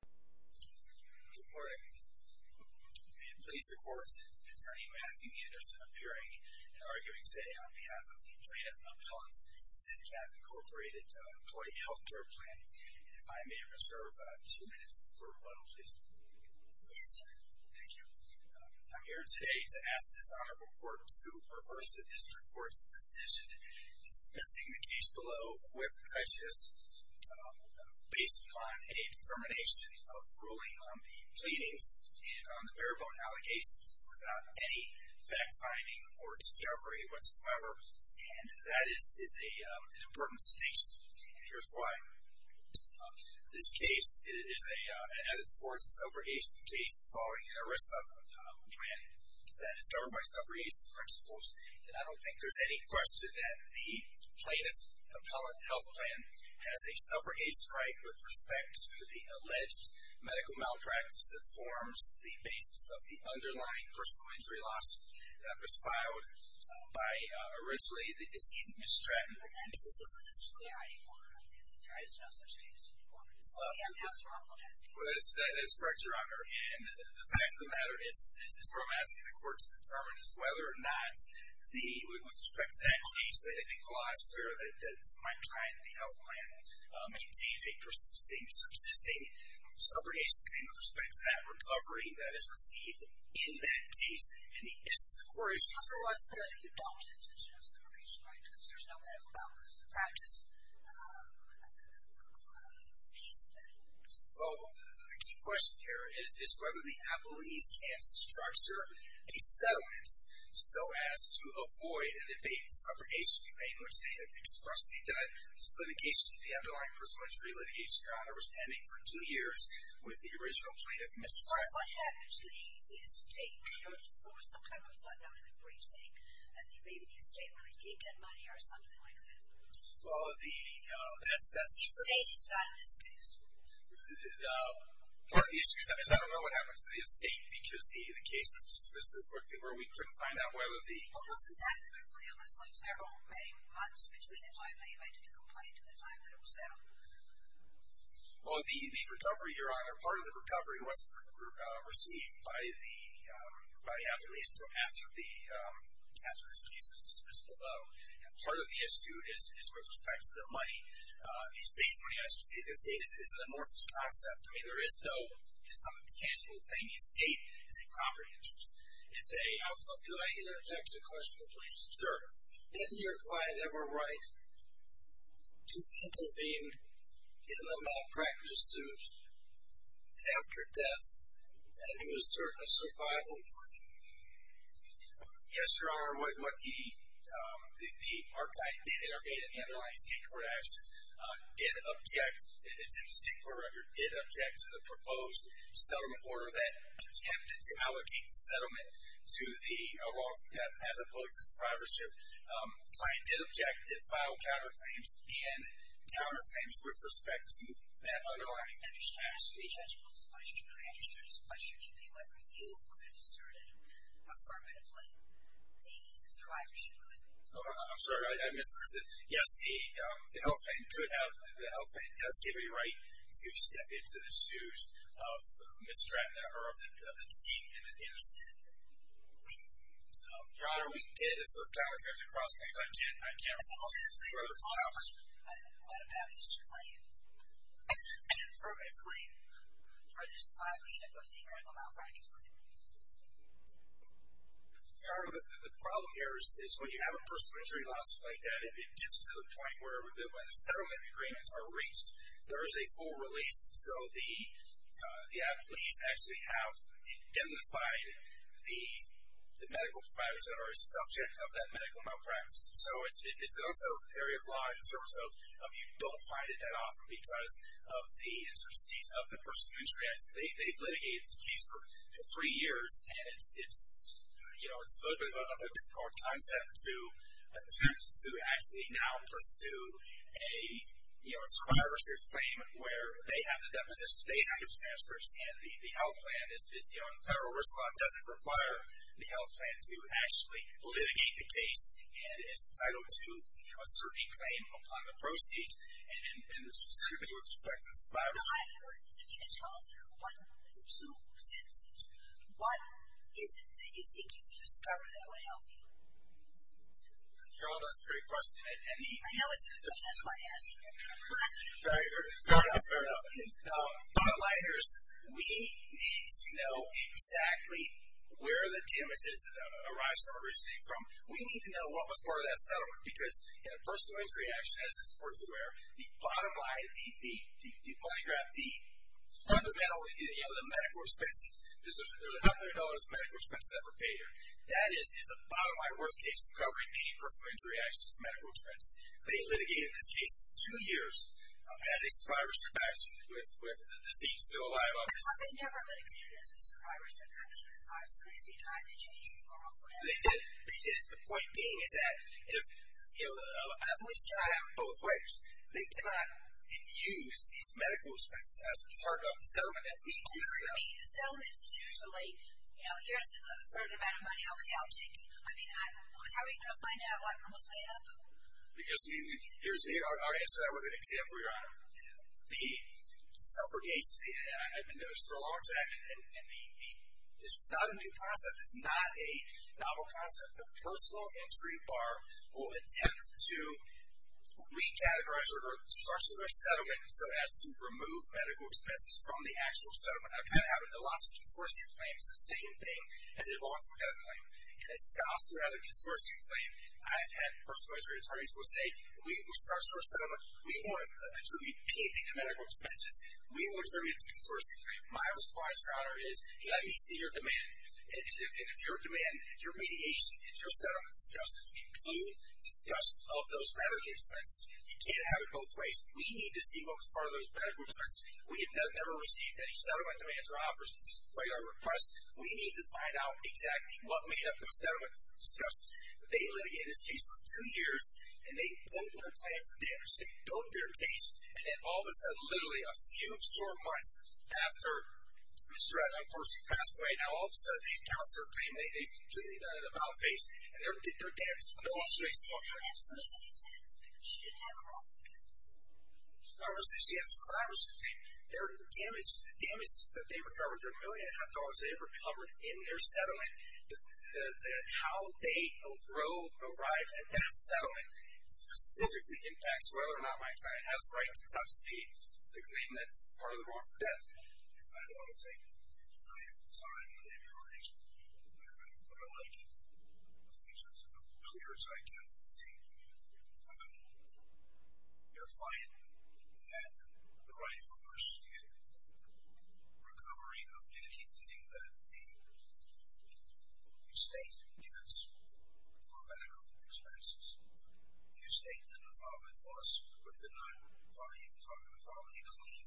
Good morning. May it please the Court, Attorney Matthew Anderson appearing and arguing today on behalf of the Plaintiff's & Appellant's MCCath Empl. Health Care Plan. And if I may reserve two minutes for rebuttal, please. Yes, sir. Thank you. I'm here today to ask this Honorable Court to reverse the District Court's decision dismissing the case below with determination of ruling on the pleadings and on the bare-bone allegations without any fact-finding or discovery whatsoever. And that is an important distinction. And here's why. This case, as it's reported, is a subrogation case involving an ERISA plan that is governed by subrogation principles. And I don't think there's any question that the Plaintiff's & Appellant's Health Care Plan has a subrogation right with respect to the alleged medical malpractice that forms the basis of the underlying persecutory lawsuit that was filed by, originally, the deceased Ms. Stratton. Is this a discrimination case? There is no such case. That is correct, Your Honor. And the fact of the matter is, what I'm asking the Court to determine is whether or not, with respect to that case, I think the law is clear that my client, the health plan, maintains a persisting, subsisting subrogation claim with respect to that recovery that is received in that case. And the issue of the court is... I'm not sure why it's clear that you don't have such a subrogation right because there's no medical malpractice piece to that. Well, the key question here is whether the appellees can structure a settlement so as to avoid an evading subrogation claim which they have expressly done. This litigation, the underlying persecutory litigation, Your Honor, was pending for two years with the original plaintiff, Ms. Stratton. What happened to the estate? There was some kind of a thud down in the precinct. I think maybe the estate really did get money or something like that. Well, the... The estate is not in this case. Part of the issue is I don't know what happened to the estate because the case was dismissed so quickly where we couldn't find out whether the... Well, wasn't that virtually a missing several months between the time they evaded the complaint and the time that it was settled? Well, the recovery, Your Honor, part of the recovery was received by the appellees after this case was dismissed below. Part of the issue is with respect to the money. The estate's money, as you see, the estate is an amorphous concept. I mean, there is no... It's not a casual thing. The estate is a property interest. It's a... Could I interject a question, please? Sure. Didn't your client ever write to intervene in the malpractice suit after death and it was served as survival money? Yes, Your Honor. What the... Our client did intervene in the underlying state court action, did object, it's in the state court record, did object to the proposed settlement order that attempted to allocate the settlement to the wrongful death as opposed to survivorship. The client did object, did file counterclaims, and counterclaims with respect to that underlying interest. Judge, will this question be registered as a question to me, whether you could have asserted affirmatively a survivorship claim? I'm sorry. I misunderstood. Yes, the health plan does give a right to step into the shoes of misdreavant or of the deceived and innocent. Your Honor, we did assert counterclaims and cross-claims. I can't refer to those. What about his claim? An affirmative claim registered survivorship of the medical malpractice claim. Your Honor, the problem here is when you have a personal injury lawsuit like that, it gets to the point where when the settlement agreements are reached, there is a full release. So the athletes actually have identified the medical providers that are a subject of that medical malpractice. So it's also an area of law in terms of you don't find it that often because of the intricacies of the personal injury. They've litigated this case for three years, and it's a little bit of a difficult concept to attempt to actually now pursue a survivorship claim where they have the depositions, they have the transfers, and the health plan is, you know, and the federal risk law doesn't require the health plan to actually litigate the case. And it's entitled to a certain claim upon the proceeds, and specifically with respect to survivorship. Your Honor, if you could tell us one or two sentences, what is it that you think you can discover that would help you? Your Honor, that's a great question. I know it's a good question. That's why I asked you. Fair enough, fair enough. My line here is we need to know exactly where the damages arise from or originate from. We need to know what was part of that settlement, because in a personal injury action, as this Court is aware, the bottom line, the money grab, the fundamental, you know, the medical expenses, there's $100 of medical expenses that were paid here. That is the bottom line worst case from covering any personal injury action for medical expenses. They litigated this case for two years as a survivorship action with the deceased still alive on the scene. But they never litigated it as a survivorship action. They did. The point being is that at least they have it both ways. They did not use these medical expenses as part of the settlement that we do. I mean, a settlement is usually, you know, here's a certain amount of money I'll be out taking. I mean, how are you going to find out what I'm going to spend? I'll answer that with an example, Your Honor. The suffragettes, and I've been doing this for a long time, and this is not a new concept. It's not a novel concept. The personal injury bar will attempt to recategorize or start some of their settlement so as to remove medical expenses from the actual settlement. I've had it happen to lots of consortium claims. The same thing has evolved from that claim. In a spouse who has a consortium claim, I've had personal injury attorneys will say, we start a settlement. We want absolutely anything to medical expenses. We want something that's a consortium claim. My response, Your Honor, is let me see your demand. And if your demand, your mediation, and your settlement discussions include discussions of those medical expenses, you can't have it both ways. We need to see what was part of those medical expenses. We have never received any settlement demands or offers by your request. We need to find out exactly what made up those settlement discussions. They litigated this case for two years, and they built their plan for damage. They built their case, and then all of a sudden, literally a few short months after Mr. Ratner, of course, he passed away, now all of a sudden, they've canceled their claim. They've completely done it about face, and they're damaged. No office space, no office space. She didn't have them off the case. She had survivors. They're damaged. They recovered their $1.5 million. They've recovered in their settlement that how they arrived at that settlement specifically impacts whether or not my client has the right to touch the claim that's part of the wrongful death claim. I don't want to take too much of your time. Maybe you're right. But I like it. I think it's as clear as I can from seeing your client that the right, of course, to recovery of anything that the state gets for medical expenses. The state didn't follow it closely, but they're not following it clean.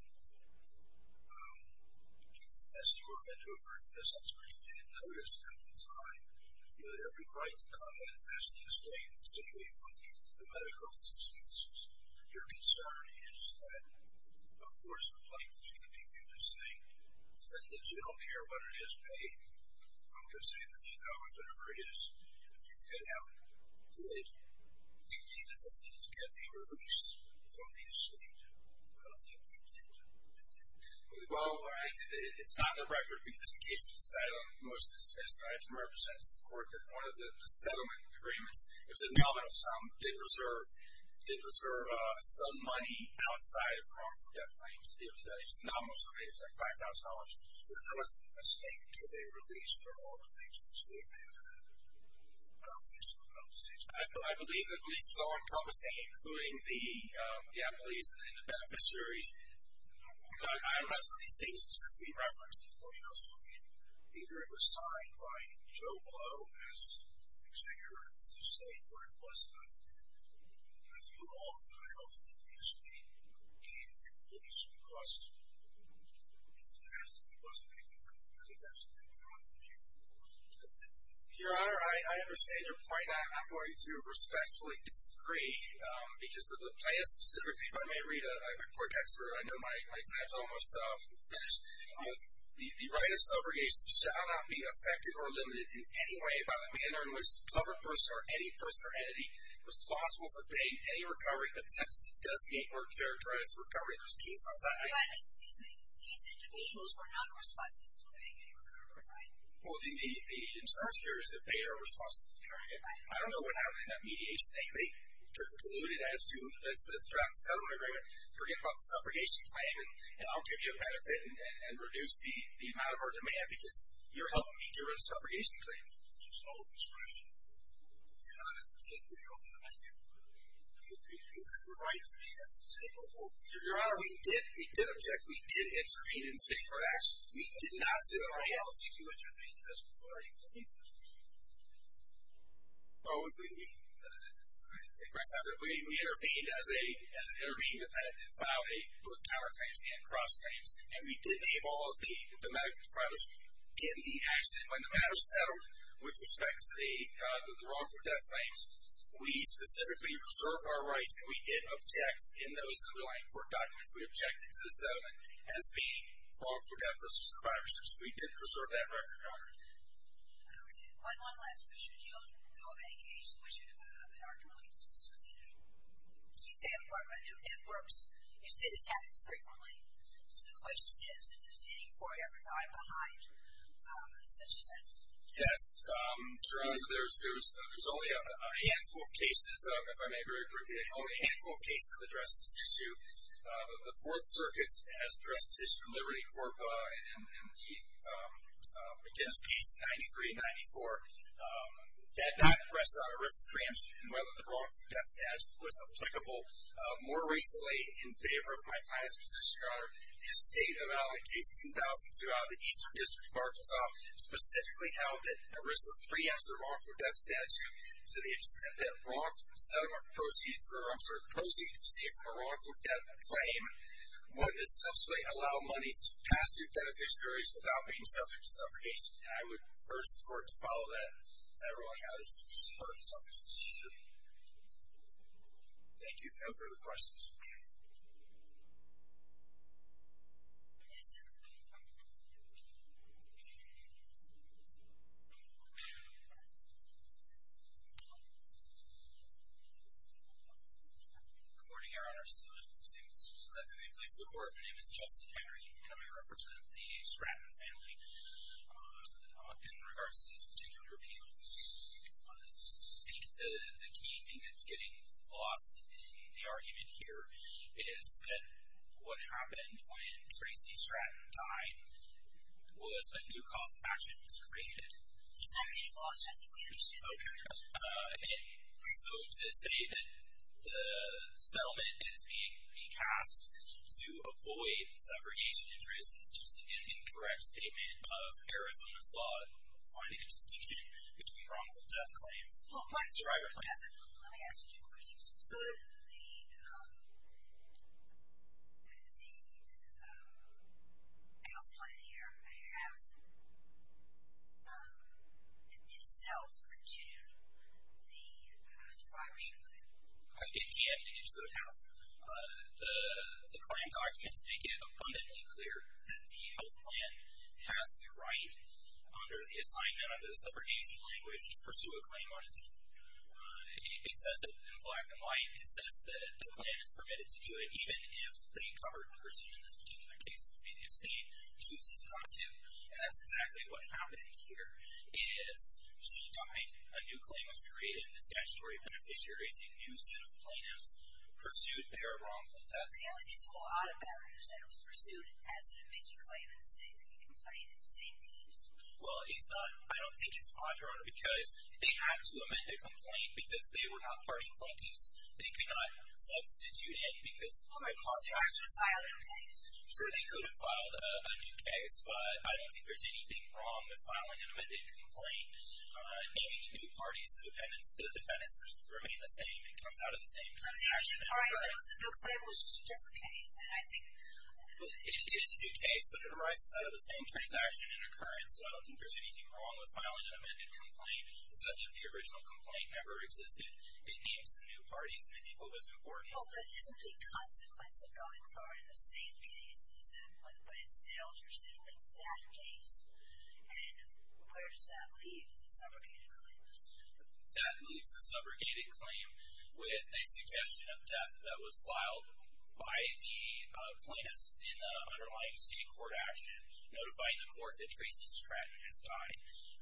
As you were venturing into this, I'm sure you didn't notice at the time that every client that come in has the estate Your concern is that, of course, you don't care what it is paid. I'm just saying that, you know, if it ever is, if you could help it, you need to at least get a release from the estate. I don't think you did. Well, it's not in the record, because in the case of asylum, I can represent to the court that one of the settlement agreements is an amendment of some. They preserve some money outside of wrongful death claims. It's nominal survey. It's like $5,000. There was a mistake to the release for all the things that the state may have done. I don't think so. I don't think so. I believe the police is all encompassing, including the employees and the beneficiaries. I don't know. Some of these things are simply referenced. I was looking. Either it was signed by Joe Blow, as the executor of the estate, or it wasn't. You all, I don't think the estate gave the police a request. It wasn't a complaint. I think that's a good point. Your Honor, I understand your point. I'm going to respectfully disagree, because the plan specifically, if I may read a court text, I know my time is almost finished. The right of subrogation shall not be affected or limited in any way by the manner in which the person or any person or entity responsible for paying any recovery attempts to designate or characterize the recovery. There's a case on that. Excuse me. These individuals were not responsible for paying any recovery, right? Well, the insert here is that they are responsible for carrying it. I don't know what happened in that mediation. They deluded it as to let's draft a settlement agreement, forget about the subrogation claim, and I'll give you a benefit and reduce the amount of our demand, because you're helping me during the subrogation claim. It's an old expression. You're not at the table. You're on the back end of the room. You have the right to be at the table. Your Honor, we did object. We did intervene and seek for action. We did not sit around. How else did you intervene? What are you talking about? Well, we intervened as an intervening defendant and filed both power claims and cross claims, and we did name all of the medical providers in the accident. When the matter settled with respect to the wrongful death claims, we specifically reserved our rights, and we did object in those underlying court documents. We objected to the settlement as being wrongful death versus privacy. So we did preserve that record, Your Honor. Okay. One last question. Do you know of any case in which an argument like this was handled? Can you say if it works? You said this happens frequently. So the question is, is any court ever behind such a thing? Yes. Your Honor, there's only a handful of cases, if I may very briefly, only a handful of cases addressed this issue. The Fourth Circuit has addressed this issue in Liberty Corp and the McGinnis case in 93 and 94. That not pressed on a risk preemption and whether the wrongful death statute was applicable. More recently, in favor of my highest position, Your Honor, the estate of Allen case 2002 out of the Eastern District, Arkansas, specifically held that a risk of preemption of wrongful death statute to the extent that wrongful settlement proceeds or proceeds received from a wrongful death claim would essentially allow monies to pass to beneficiaries without being subject to subrogation. I would urge the court to follow that. I really have the interest in supporting this case. Thank you. Thank you. No further questions. Yes, sir. Good morning, Your Honor. My name is Joseph Levy. I'm a police lawyer. My name is Jesse Henry, and I represent the Stratton family. In regards to this particular appeal, I think the key thing that's getting lost in the argument here is that what happened when Tracy Stratton died was a new cause of action was created. He's not getting lost. I think we understand that. Okay. So to say that the settlement is being recast to avoid subrogation interest is just an incorrect statement of Arizona's law in finding a distinction between wrongful death claims and survivor claims. Let me ask you two questions. Could the health plan here have, in itself, considered the survivor should claim? It can. It should have. The claim documents make it abundantly clear that the health plan has the right, under the assignment of the subrogation language, to pursue a claim on its own. It says it in black and white. It says that the plan is permitted to do it even if the covered person in this particular case would be the estate. She's not, too. And that's exactly what happened here is she died. A new claim was created. The statutory beneficiary is a new set of plaintiffs pursued there of wrongful death. So the only thing that's a little odd about it is that it was pursued as an amended claim in the same complaint in the same case. Well, it's not. I don't think it's fraudulent because they had to amend a complaint because they were not party plaintiffs. They could not substitute it because it would cause the actions of a new case. Sure, they could have filed a new case, but I don't think there's anything wrong with filing an amended complaint. Any new parties, the defendants remain the same. It comes out of the same transaction. All right, so the claim was just a case, and I think... It is a new case, but it arises out of the same transaction and occurrence, so I don't think there's anything wrong with filing an amended complaint. It's as if the original complaint never existed. It names the new parties, and I think what was important... Well, but isn't the consequence of going far in the same case is that when it sails, you're sailing that case. And where does that leave the subrogated claim? That leaves the subrogated claim with a suggestion of death that was filed by the plaintiffs in the underlying state court action, notifying the court that Tracy Stratton has died.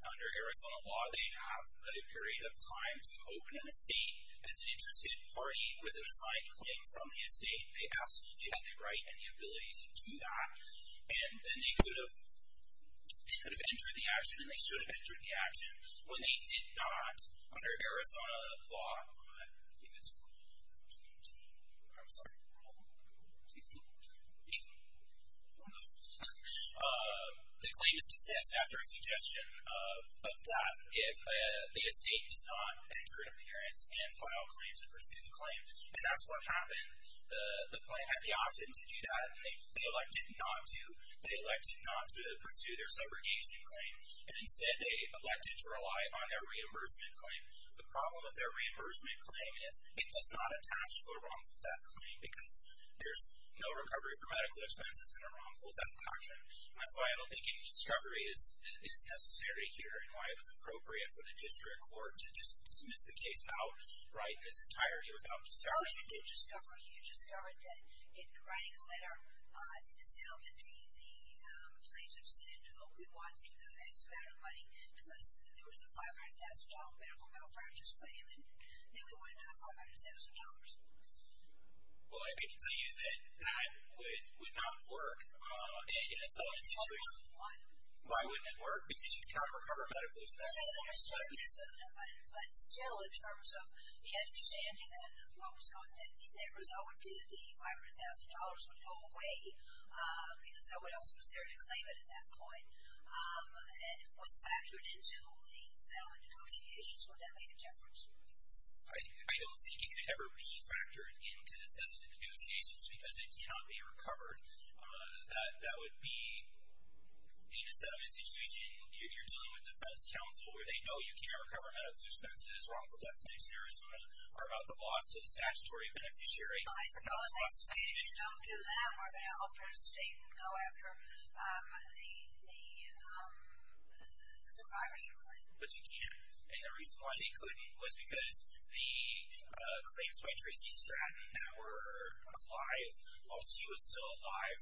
Under Arizona law, they have a period of time to open an estate as an interested party with an assigned claim from the estate. They absolutely have the right and the ability to do that, and then they could have entered the action, and they should have entered the action when they did not. Under Arizona law, I believe it's Rule 22... I'm sorry, Rule... 18? The claim is dismissed after a suggestion of death if the estate does not enter an appearance and file claims in pursuit of the claim, and that's what happened. The plaintiff had the option to do that, and they elected not to. They elected not to pursue their subrogation claim, and instead they elected to rely on their reimbursement claim. The problem with their reimbursement claim is it does not attach to a wrongful death claim because there's no recovery for medical expenses in a wrongful death action. That's why I don't think any discovery is necessary here in why it was appropriate for the district court to dismiss the case outright in its entirety without discerning it. You discovered that in writing a letter to the settlement, the plaintiff said, oh, we want this amount of money because there was a $500,000 medical malpractice claim, and now we want another $500,000. Well, I can tell you that that would not work in a settlement situation. Why wouldn't it work? Because you cannot recover medical expenses. But still, in terms of the understanding and what was going on, the net result would be that the $500,000 would go away because no one else was there to claim it at that point. And if it was factored into the settlement negotiations, would that make a difference? I don't think it could ever be factored into the settlement negotiations because it cannot be recovered. That would be, in a settlement situation, you're dealing with defense counsel where they know you can't recover medical expenses, wrongful death claims in Arizona are about the loss to the statutory beneficiary. I suppose that's saying if you don't do that, we're going to offer a statement, no, after the survivor's complaint. But you can't, and the reason why they couldn't was because the claims by Tracy Stratton that were alive while she was still alive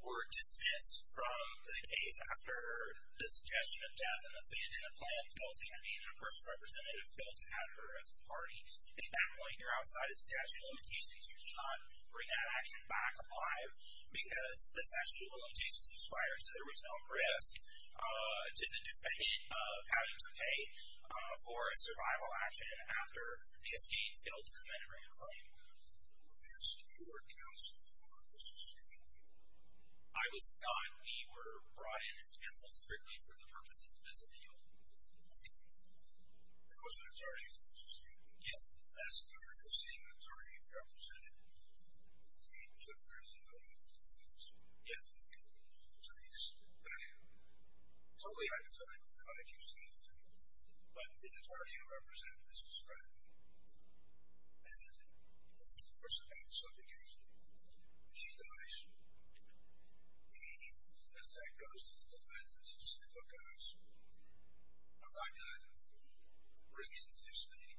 were dismissed from the case after the suggestion of death and offend in the plan failed to happen, and a person representative failed to have her as a party. At that point, you're outside of the statute of limitations. You should not bring that action back alive because the statute of limitations requires that there was no arrest to the defendant of having to pay for a survival action after the escape failed to commemorate a claim. I was thought we were brought in as counsel strictly for the purposes of this appeal. There was an attorney from the society. Yes. As part of seeing the attorney represented, he took very little notice of the case. Yes. So he's totally identifiable. I don't accuse him of anything, but the attorney who represented Mrs. Stratton and, of course, about the subject of the case, when she dies, the effect goes to the defendants who say, look guys, I'm not going to bring in the estate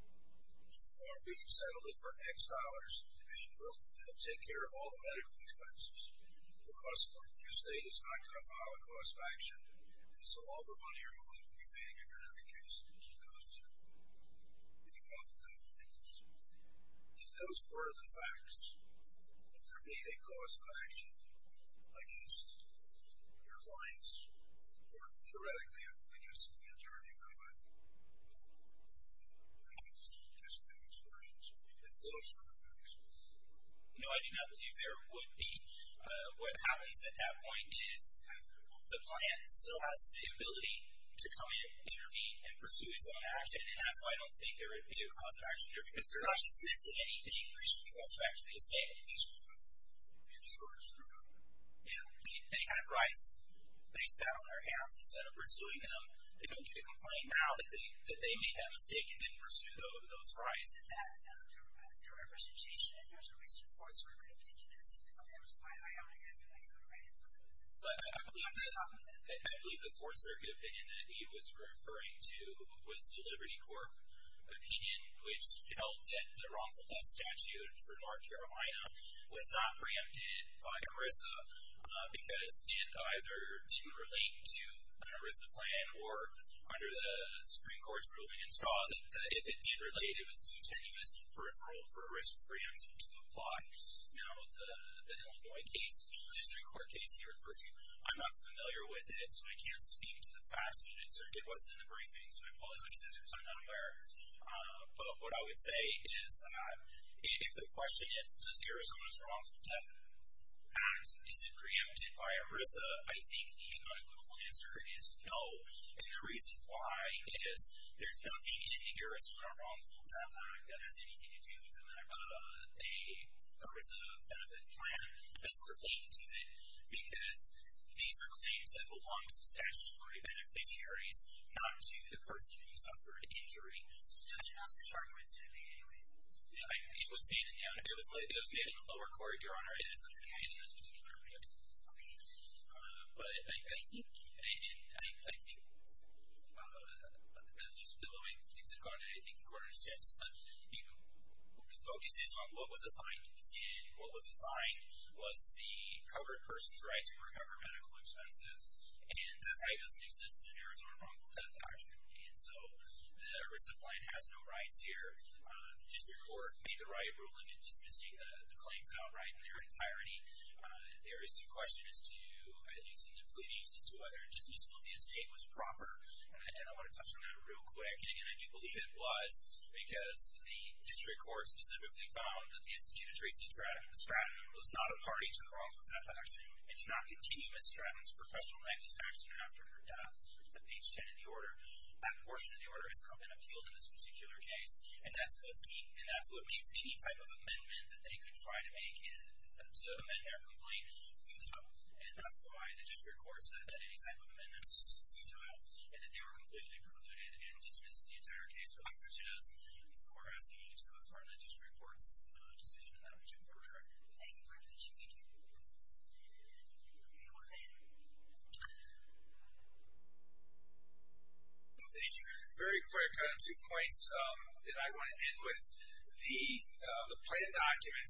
or be settled it for X dollars and take care of all the medical expenses because the estate is not going to file a cause of action and so all the money you're going to be paying under the case is going to go to the defendant. If those were the facts, if there be a cause of action against your clients or theoretically, I guess, if the attorney were to, I don't know, just make excursions, if those were the facts. No, I do not believe there would be. What happens at that point is the client still has the ability to come in, intervene, and pursue his own action and that's why I don't think there would be a cause of action there because they're not submissive to anything which people expect. They say at least one thing. And so it's true. Yeah. They had rice. They sat on their hands. Instead of pursuing them, they don't get to complain now that they made that mistake and didn't pursue those rights. And that's not a representation. And there's a recent Fourth Circuit opinion. That was my own opinion. I agree with it. But I believe the Fourth Circuit opinion that he was referring to was the Liberty Court opinion which held that the wrongful death statute for North Carolina was not preempted by ERISA because it either didn't relate to an ERISA plan or under the Supreme Court's ruling it saw that if it did relate, it was too tenuous and peripheral for ERISA preemption to apply. Now, the Illinois case, the Illinois District Court case he referred to, I'm not familiar with it, so I can't speak to the facts of it. It wasn't in the briefing, so I apologize if I'm not aware. But what I would say is that if the question is, is ERISA's Arizona's Wrongful Death Act, is it preempted by ERISA? I think the unequivocal answer is no. And the reason why is there's nothing in the Arizona Wrongful Death Act that has anything to do with an ERISA benefit plan as relating to it because these are claims that belong to the statutory beneficiaries, not to the person who suffered injury. I didn't ask your charge, but it seemed to me anyway. It was made in the lower court, Your Honor. It isn't made in this particular case. Okay. But I think, and I think, at least the way things have gone, I think the court understands that the focus is on what was assigned, and what was assigned was the covered person's right to recover medical expenses, and that doesn't exist in an Arizona Wrongful Death Act. And so the ERISA plan has no rights here. The district court made the right ruling in dismissing the claims outright in their entirety. There is some question as to, at least in the pleadings, as to whether dismissal of the estate was proper. And I want to touch on that real quick. And I do believe it was because the district court specifically found that the estate of Tracy Stratton was not a party to the Wrongful Death Act, and did not continue Miss Stratton's professional neglect of action after her death. On page 10 of the order, that portion of the order has not been appealed in this particular case, and that's what means any type of amendment that they could try to make to amend their complaint futile. And that's why the district court said that any type of amendment is futile, and that they were completely precluded and dismissed the entire case without prejudice. And so we're asking each of you to affirm the district court's decision in that particular regard. Thank you very much. Thank you. Okay. Thank you. Thank you. Very quick. I have two points that I want to end with. The plan document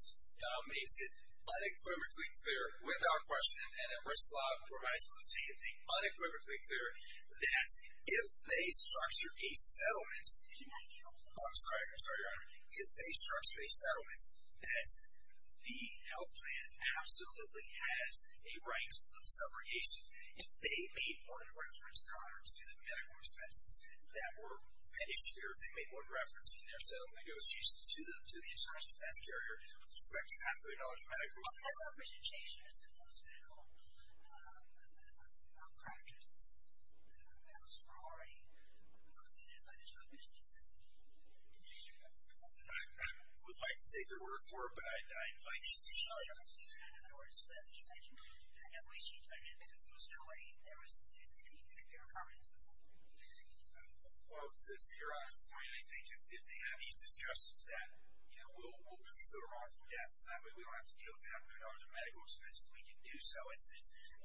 makes it unequivocally clear, without question, and the risk law provides the same thing, unequivocally clear, that if they structure a settlement, if you might need a moment. I'm sorry, I'm sorry, Your Honor. If they structure a settlement, the health plan absolutely has a right of subrogation. If they made more than a reference, Your Honor, to the medical expenses that were made here, if they made more than a reference in their settlement, it was used to the insurance defense carrier with respect to $500,000 of medical expenses. That's not a presentation. It's a physical practice that the bills were already completed by the judicial officials in the district court. I would like to take their word for it, but I'd like to see it. Well, Your Honor, if you said in other words that you had to do that, at least you did, because there was no way there was, you didn't even make your comments at all. Well, Your Honor, I think if they have these discussions, then we'll consider it. Yes, we don't have to deal with $500,000 of medical expenses. We can do so. I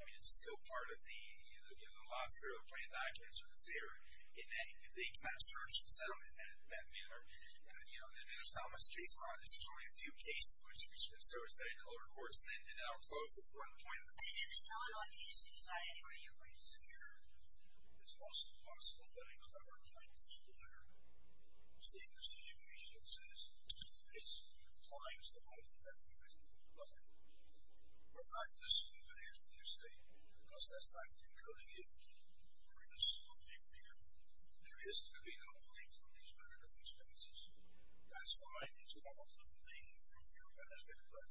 mean, it's still part of the, you know, the law is clearly the plan document, so it's there, and they can kind of search the settlement in that manner. And, you know, there's not much case law in this. There's only a few cases, which is so to say, in other courts, and now I'm close. That's where I'm pointing. I didn't sell it on the issue side, anyway. You're pretty secure. It's also possible that a clever plaintiff's lawyer seeing the situation says, two things, the client's the one who definitely has to take a look. But I'm not going to assume that he has a clear state, because that's not true. I'm telling you, we're going to slowly figure. There is going to be no claim for these creditable expenses. That's fine. It's also plain and pure benefit, but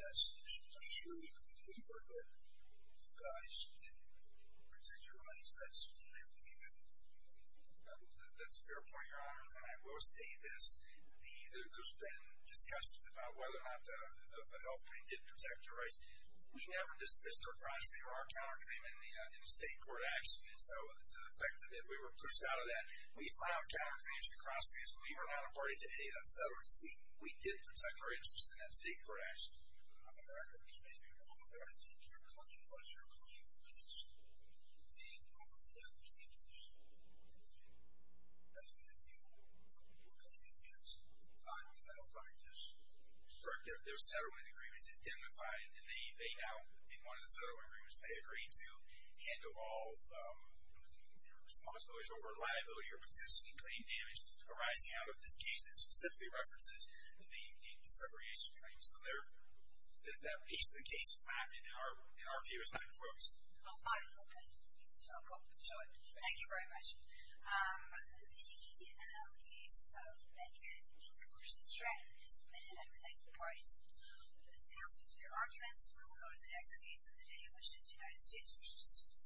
that's the issue. I'm sure you can believe her, but if you guys didn't protect your money, that's fine. We can do it. That's a fair point, Your Honor, and I will say this. There's been discussions about whether or not the health claim did protect your rights. We never dismissed or crossed the Iraq counterclaim in the state court action, so to the effect that we were pushed out of that. We filed counterclaims to cross-claims. We were not a party to any of that settlement. We did protect our interests in that state court action. Your Honor, I think your claim was your claim against the over-the-death conditions. That's what you were claiming against in that practice. Correct. There were settlement agreements identified, and they now, in one of the settlement agreements, they agreed to handle all responsibilities over liability or potentially claim damage arising out of this case that specifically references the segregation claims. So that piece of the case is not in our view. It's not in the focus. Well, fine. I'll show it. Thank you very much. The case of Medgar v. Stratton is submitted, and we thank the parties. Counsel, for your arguments, we will go to the next case of the day, which is United States v. Seward.